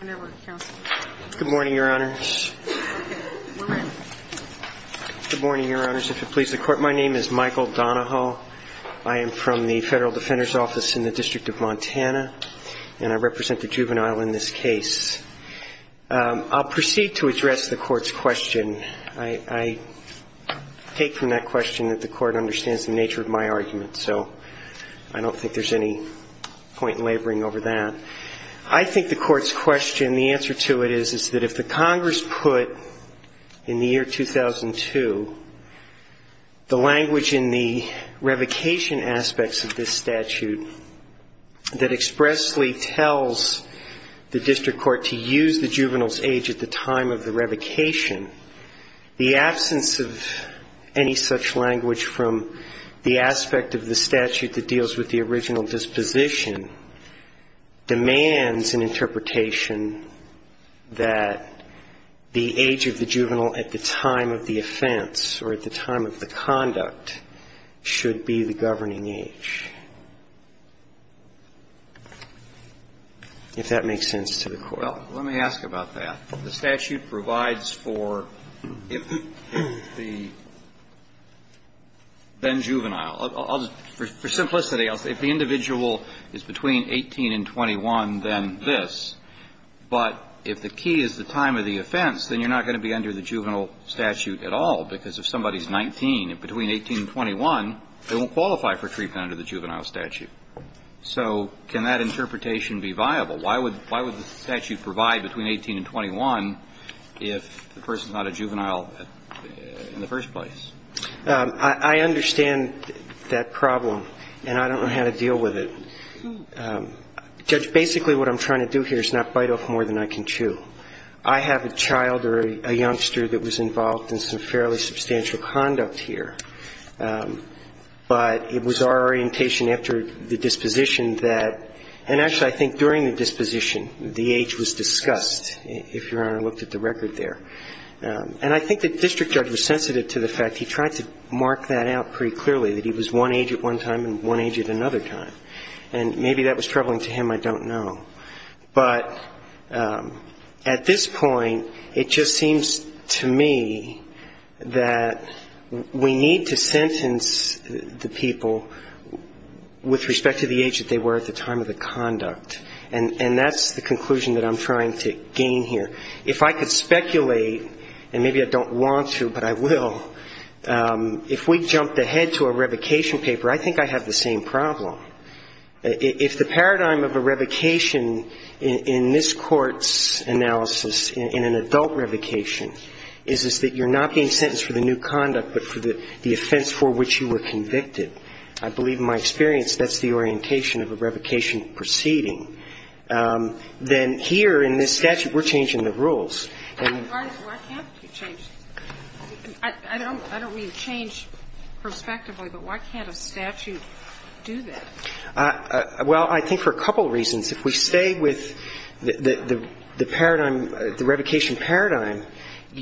Donahoe Good Morning, Your Honors. Good morning, Your Honors. If it please the Court, My name is Michael Donahoe. I am from the Federal Defender's Office in the District of Montana, and I represent the Juvenile in this case. I'll proceed to address the Court's question. I take from that question that the Court understands the nature of my argument, so I don't think there's any point in laboring over that. I think the Court's question, the answer to it is, is that if the Congress put in the year 2002 the language in the revocation aspects of this statute that expressly tells the District Court to use the juvenile's age at the time of the revocation, the absence of any such language from the aspect of the statute that deals with the original disposition demands an interpretation that the age of the juvenile at the time of the offense or at the time of the conduct should be the governing age, if that makes sense to the Court. Well, let me ask about that. The statute provides for if the then-juvenile. For simplicity, if the individual is between 18 and 21, then this, but if the key is the 18, if between 18 and 21, they won't qualify for treatment under the juvenile statute. So can that interpretation be viable? Why would the statute provide between 18 and 21 if the person's not a juvenile in the first place? I understand that problem, and I don't know how to deal with it. Judge, basically what I'm trying to do here is not bite off more than I can chew. I have a child or a youngster that was involved in some fairly substantial conduct here, but it was our orientation after the disposition that – and actually, I think during the disposition, the age was discussed, if Your Honor looked at the record there. And I think the district judge was sensitive to the fact he tried to mark that out pretty clearly, that he was one age at one time and one age at another time. And maybe that was troubling to him, I don't know. But at this point, it just seems to me that we need to sentence the people with respect to the age that they were at the time of the conduct. And that's the conclusion that I'm trying to gain here. If I could speculate – and maybe I don't want to, but I will – if we jumped ahead to a revocation paper, I think I'd have the same problem. If the paradigm of a revocation in this Court's analysis, in an adult revocation, is that you're not being sentenced for the new conduct, but for the offense for which you were convicted. I believe in my experience that's the orientation of a revocation proceeding. Then here in this statute, we're changing the rules. And I don't mean change prospectively, but why can't a statute do that? Well, I think for a couple of reasons. If we stay with the paradigm, the revocation paradigm,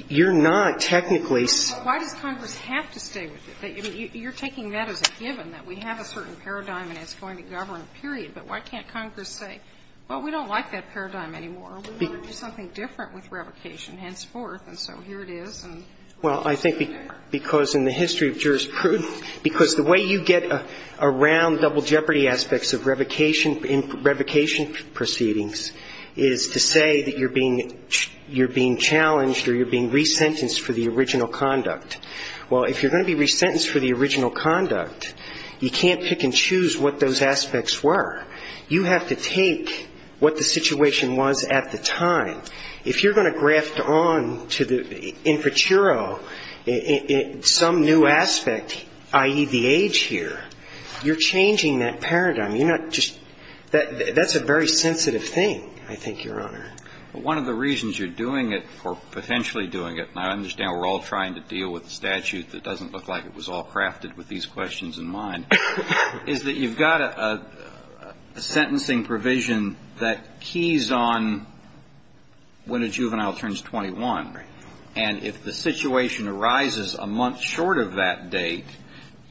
you're not technically – Why does Congress have to stay with it? You're taking that as a given, that we have a certain paradigm and it's going to govern, period. But why can't Congress say, well, we don't like that paradigm anymore, we want to do something different with revocation, henceforth, and so here it is. Well, I think because in the history of jurisprudence – because the way you get around double jeopardy aspects of revocation proceedings is to say that you're being challenged or you're being resentenced for the original conduct. Well, if you're going to be resentenced for the original conduct, you can't pick and choose what those aspects were. You have to take what the situation was at the time. If you're going to graft on to the infratero some new aspect, i.e., the age here, you're changing that paradigm. You're not just – that's a very sensitive thing, I think, Your Honor. One of the reasons you're doing it, or potentially doing it, and I understand we're all trying to deal with a statute that doesn't look like it was all crafted with these questions in mind, is that you've got a sentencing provision that keys on when a juvenile turns 21, and if the situation arises a month short of that date,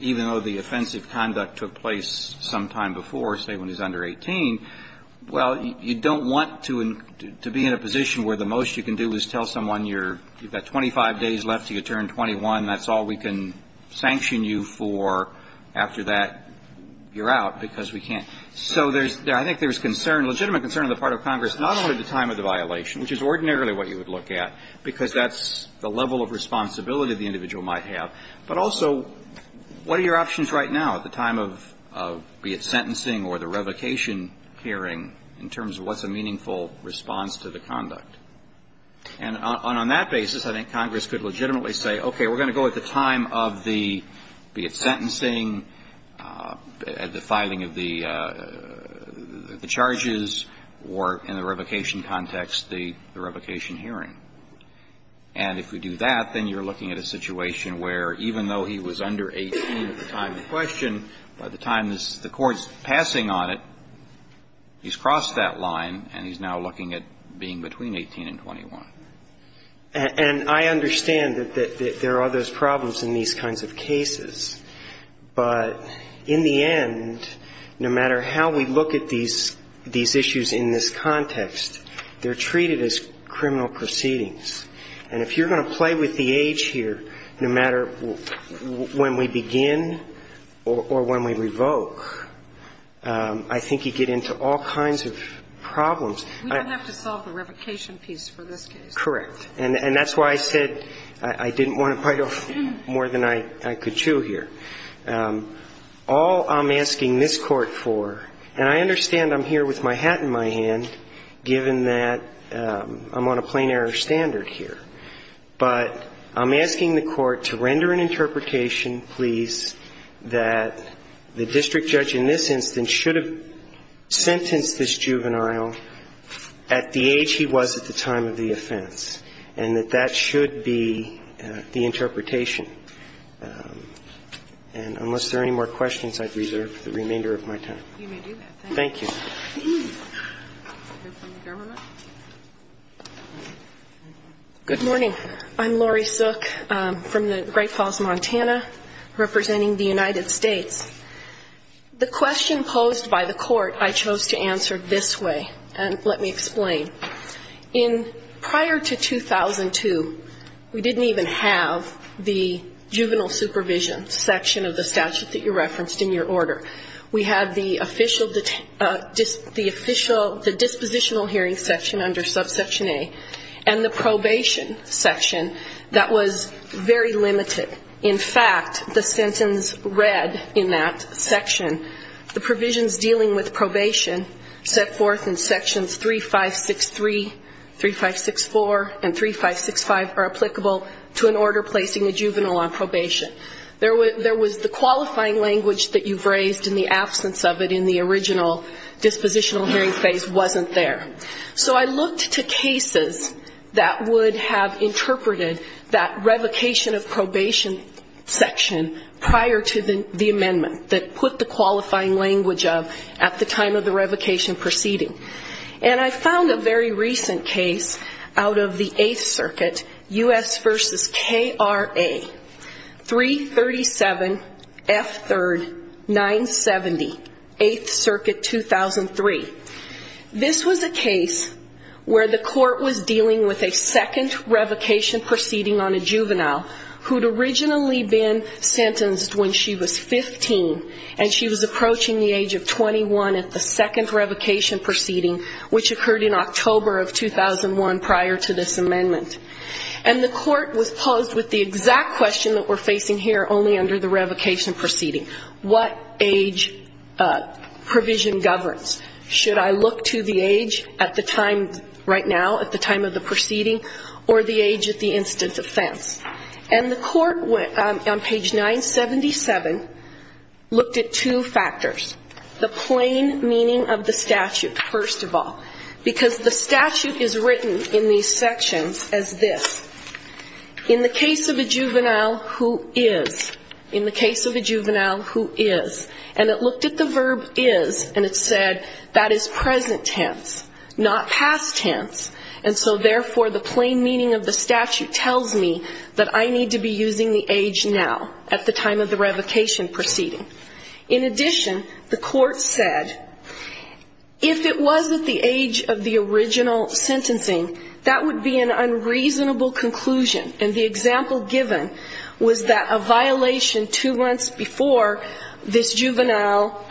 even though the offensive conduct took place sometime before, say when he's under 18, well, you don't want to be in a position where the most you can do is tell someone you've got 25 days left till you get out of jail. After that, you're out because we can't. So there's – I think there's concern, legitimate concern on the part of Congress, not only the time of the violation, which is ordinarily what you would look at, because that's the level of responsibility the individual might have, but also what are your options right now at the time of, be it sentencing or the revocation hearing, in terms of what's a meaningful response to the conduct. And on that basis, I think Congress could legitimately say, okay, we're going to go at the time of the – be it sentencing, at the filing of the charges, or in the revocation context, the revocation hearing. And if we do that, then you're looking at a situation where even though he was under 18 at the time of the question, by the time the Court's passing on it, he's crossed that line and he's now looking at being between 18 and 21. And I understand that there are those problems in these kinds of cases. But in the end, no matter how we look at these issues in this context, they're treated as criminal proceedings. And if you're going to play with the age here, no matter when we begin or when we revoke, I think you get into all kinds of problems. We don't have to solve the revocation piece for this case. Correct. And that's why I said I didn't want to bite off more than I could chew here. All I'm asking this Court for, and I understand I'm here with my hat in my hand, given that I'm on a plain-error standard here, but I'm asking the Court to render an interpretation, please, that the district judge in this instance at the age he was at the time of the offense, and that that should be the interpretation. And unless there are any more questions, I'd reserve the remainder of my time. You may do that. Thank you. Good morning. I'm Lori Sook from the Great Falls, Montana, representing the United States Department of Justice. Let me explain. In prior to 2002, we didn't even have the juvenile supervision section of the statute that you referenced in your order. We had the official, the official, the dispositional hearing section under subsection A, and the probation section that was very limited. In fact, the sentence read in that section, the provisions dealing with probation set forth in sections 3563, 3564, and 3565 are applicable to an order placing a juvenile on probation. There was the qualifying language that you've raised in the absence of it in the original dispositional hearing phase wasn't there. So I looked to cases that would have interpreted that revocation of probation section prior to the amendment, that put the qualifying language of at the time of the revocation proceeding. And I found a very recent case out of the Eighth Circuit, U.S. v. K.R.A. 337F3 970, Eighth Circuit 2003. This was a case where the court was dealing with a second woman who was sentenced when she was 15, and she was approaching the age of 21 at the second revocation proceeding, which occurred in October of 2001 prior to this amendment. And the court was posed with the exact question that we're facing here only under the revocation proceeding. What age provision governs? Should I look to the age at the time right now, at the time of the proceeding, or the age at the instant offense? And the court, on page 9, said that 377 looked at two factors. The plain meaning of the statute, first of all. Because the statute is written in these sections as this. In the case of a juvenile who is. In the case of a juvenile who is. And it looked at the verb is, and it said that is present tense, not past tense. And so therefore, the plain meaning of the statute tells me that I need to be using the age now, at the time of the revocation proceeding. In addition, the court said, if it was at the age of the original sentencing, that would be an unreasonable conclusion. And the example given was that a violation two months before this juvenile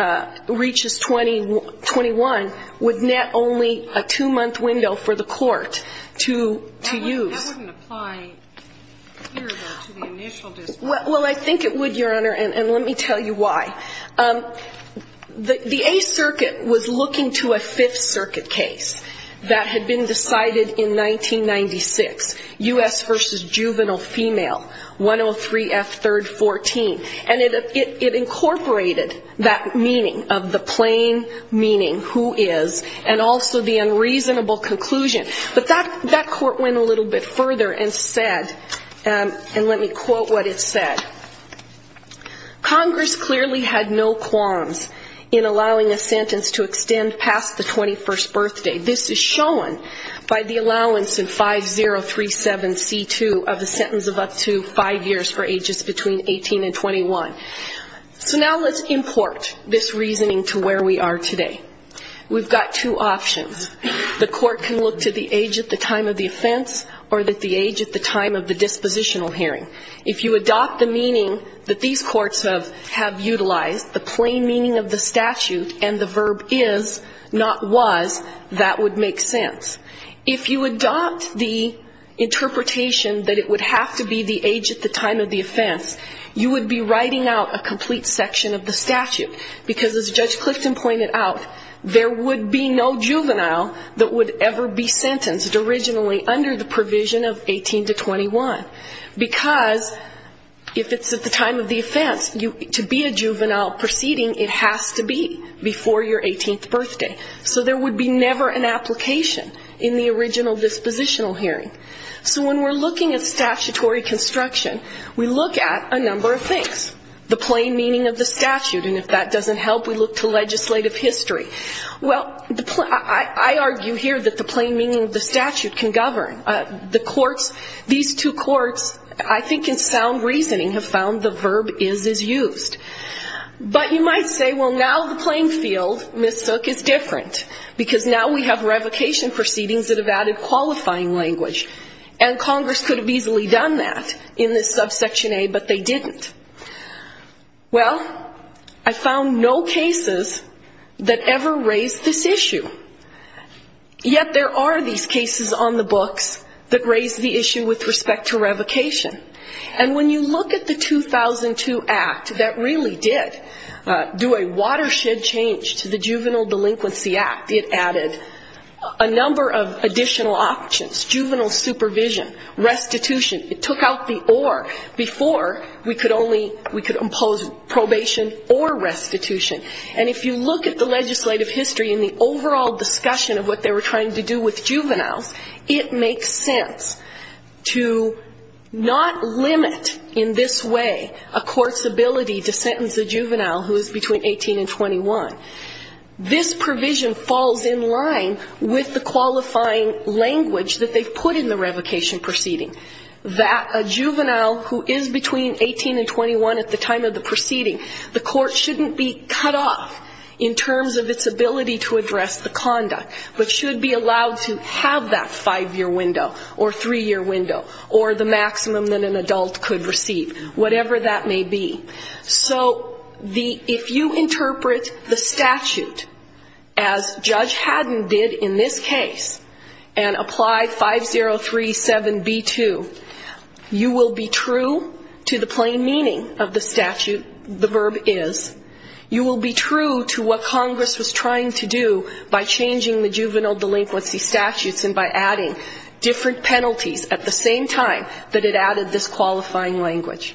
reaches 21 would net only a two-month window for the court to use. And that wouldn't apply here, though, to the initial dispute. Well, I think it would, Your Honor, and let me tell you why. The Eighth Circuit was looking to a Fifth Circuit case that had been decided in 1996, U.S. v. Juvenile Female, 103F314. And it incorporated that meaning of the plain meaning, who is, and also the unreasonable conclusion. But that court went a little bit further and said, and let me quote what it said, Congress clearly had no qualms in allowing a sentence to extend past the 21st birthday. This is shown by the allowance in 5037C2 of a sentence of up to five years for ages between 18 and 21. So now let's import this reasoning to where we are today. We've got two options. The court can look to the age at the time of the offense or the age at the time of the dispositional hearing. If you adopt the meaning that these courts have utilized, the plain meaning of the statute and the verb is, not was, that would make sense. If you adopt the interpretation that it would have to be the age at the time of the offense, you would be writing out a complete section of the statute. Because as Judge Clifton pointed out, there would be no sentence originally under the provision of 18 to 21. Because if it's at the time of the offense, to be a juvenile proceeding, it has to be before your 18th birthday. So there would be never an application in the original dispositional hearing. So when we're looking at statutory construction, we look at a number of things. The plain meaning of the statute. And if that doesn't help, we look to legislative history. Well, I argue here that the plain meaning of the statute can govern. The courts, these two courts, I think in sound reasoning, have found the verb is, is used. But you might say, well, now the plain field, Ms. Sook, is different. Because now we have revocation proceedings that have added qualifying language. And Congress could have easily done that in this subsection A, but they didn't. Well, I found no cases that ever raised this issue. Yet there are these cases on the books that raise the issue with respect to revocation. And when you look at the 2002 Act that really did do a watershed change to the Juvenile Delinquency Act, it added a number of additional options. Juvenile supervision. Restitution. It took out the or before we could only, we could impose probation or restitution. And if you look at the legislative history and the overall discussion of what they were trying to do with juveniles, it makes sense to not limit in this way a court's ability to sentence a juvenile who is between 18 and 21. This provision falls in line with the qualifying language that they've put in the revocation proceeding. That a juvenile who is between 18 and 21 at the time of the proceeding, the court shouldn't be cut out to have that five-year window or three-year window or the maximum that an adult could receive, whatever that may be. So the, if you interpret the statute as Judge Haddon did in this case and apply 5037B2, you will be true to the plain meaning of the statute, the verb is. You will be true to what Congress was trying to do by changing the juvenile delinquency statutes and by adding different penalties at the same time that it added this qualifying language.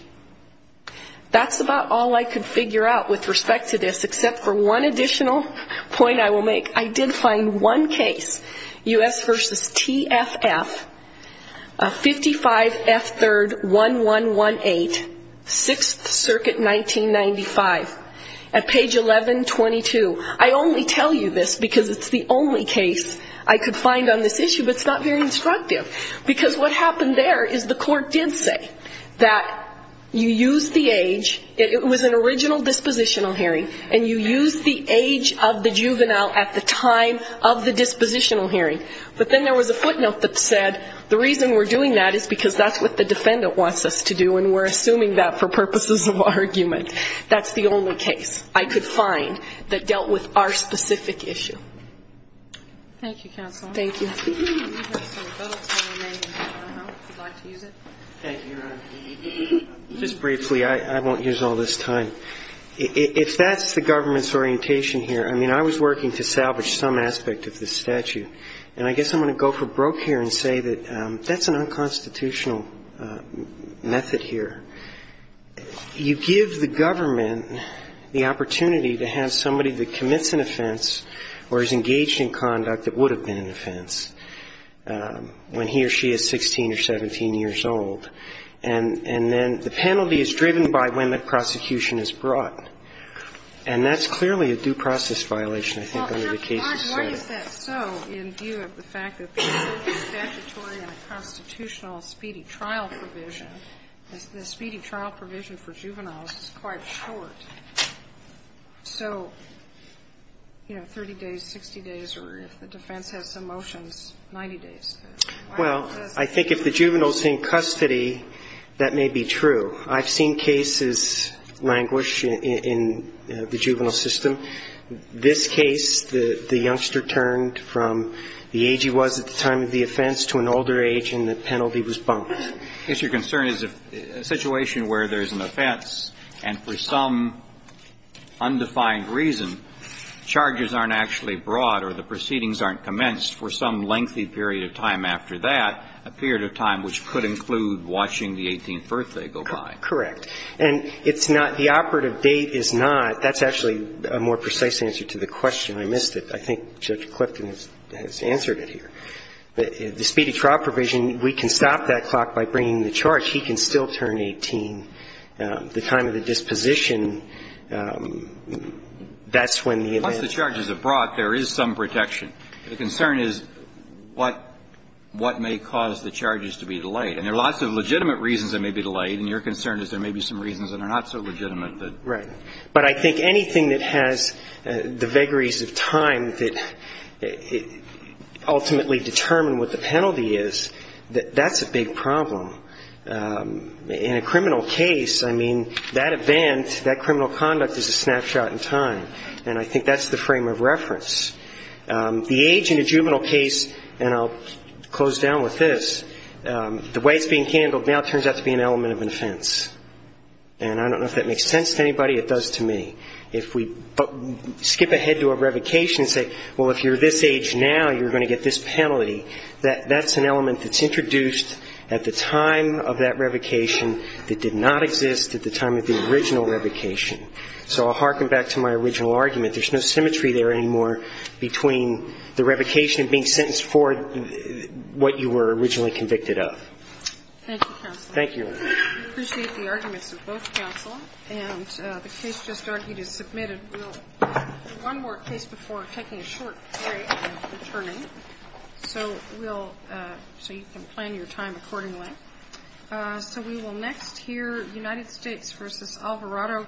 That's about all I could figure out with respect to this, except for one additional point I will make. I did find one case, U.S. v. TFF, 55F31118, 6th Circuit, 1995, at page 1122. I only tell you this because it's the only case I could find on this issue, but it's not very instructive. Because what happened there is the court did say that you use the age, it was an original dispositional hearing, and you use the age of the juvenile at the time of the dispositional hearing. But then there was a footnote that said the reason we're doing that is because that's what the defendant wants us to do, and we're assuming that for purposes of argument. That's the only case I could find that dealt with our specific issue. Thank you, counsel. Thank you. Just briefly, I won't use all this time. If that's the government's orientation here, I mean, I was working to salvage some aspect of this statute, and I guess I'm going to go for broke here and say that that's an unconstitutional method here. I mean, it's an offense where he's engaged in conduct that would have been an offense when he or she is 16 or 17 years old. And then the penalty is driven by when the prosecution is brought. And that's clearly a due process violation, I think, under the cases setting. Well, why is that so in view of the fact that the statute is statutory and the constitutional speedy trial provision, the speedy trial provision for juveniles is quite short? So, you know, 30 days, 60 days, or if the defense has some motions, 90 days. Well, I think if the juvenile is in custody, that may be true. I've seen cases languish in the juvenile system. This case, the youngster turned from the age he was at the time of the offense to an older age, and the penalty was bumped. I guess your concern is if a situation where there's an offense, and for some undefined reason, charges aren't actually brought or the proceedings aren't commenced for some lengthy period of time after that, a period of time which could include watching the 18th birthday go by. Correct. And it's not the operative date is not. That's actually a more precise answer to the question. I missed it. I think Judge Clifton has answered it here. The speedy trial provision, we can stop that clock by bringing the charge. He can still turn 18. The time of the disposition, that's when the event... Once the charges are brought, there is some protection. The concern is what may cause the charges to be delayed. And there are lots of legitimate reasons it may be delayed, and your concern is there may be some reasons that are not so legitimate. Right. But I think anything that has the vagaries of time that ultimately determine what the penalty is, that's a big problem. In a criminal case, I mean, that event, that criminal conduct is a snapshot in time, and I think that's the frame of reference. The age in a juvenile case, and I'll close down with this, the way it's being handled now turns out to be an element of an offense. And I don't know if that makes sense to anybody. It does to me. If we skip ahead to a revocation and say, well, if you're this age now, you're going to get this penalty, that's an element that's introduced at the time of that revocation that did not exist at the time of the original revocation. So I'll harken back to my original argument. There's no symmetry there anymore between the revocation and being sentenced for what you were originally convicted of. Thank you, counsel. Thank you. I appreciate the arguments of both counsel. And the case just argued is submitted. We'll do one more case before taking a short break and then returning, so you can plan your time accordingly. So we will next hear United States v. Alvarado, Guiliani.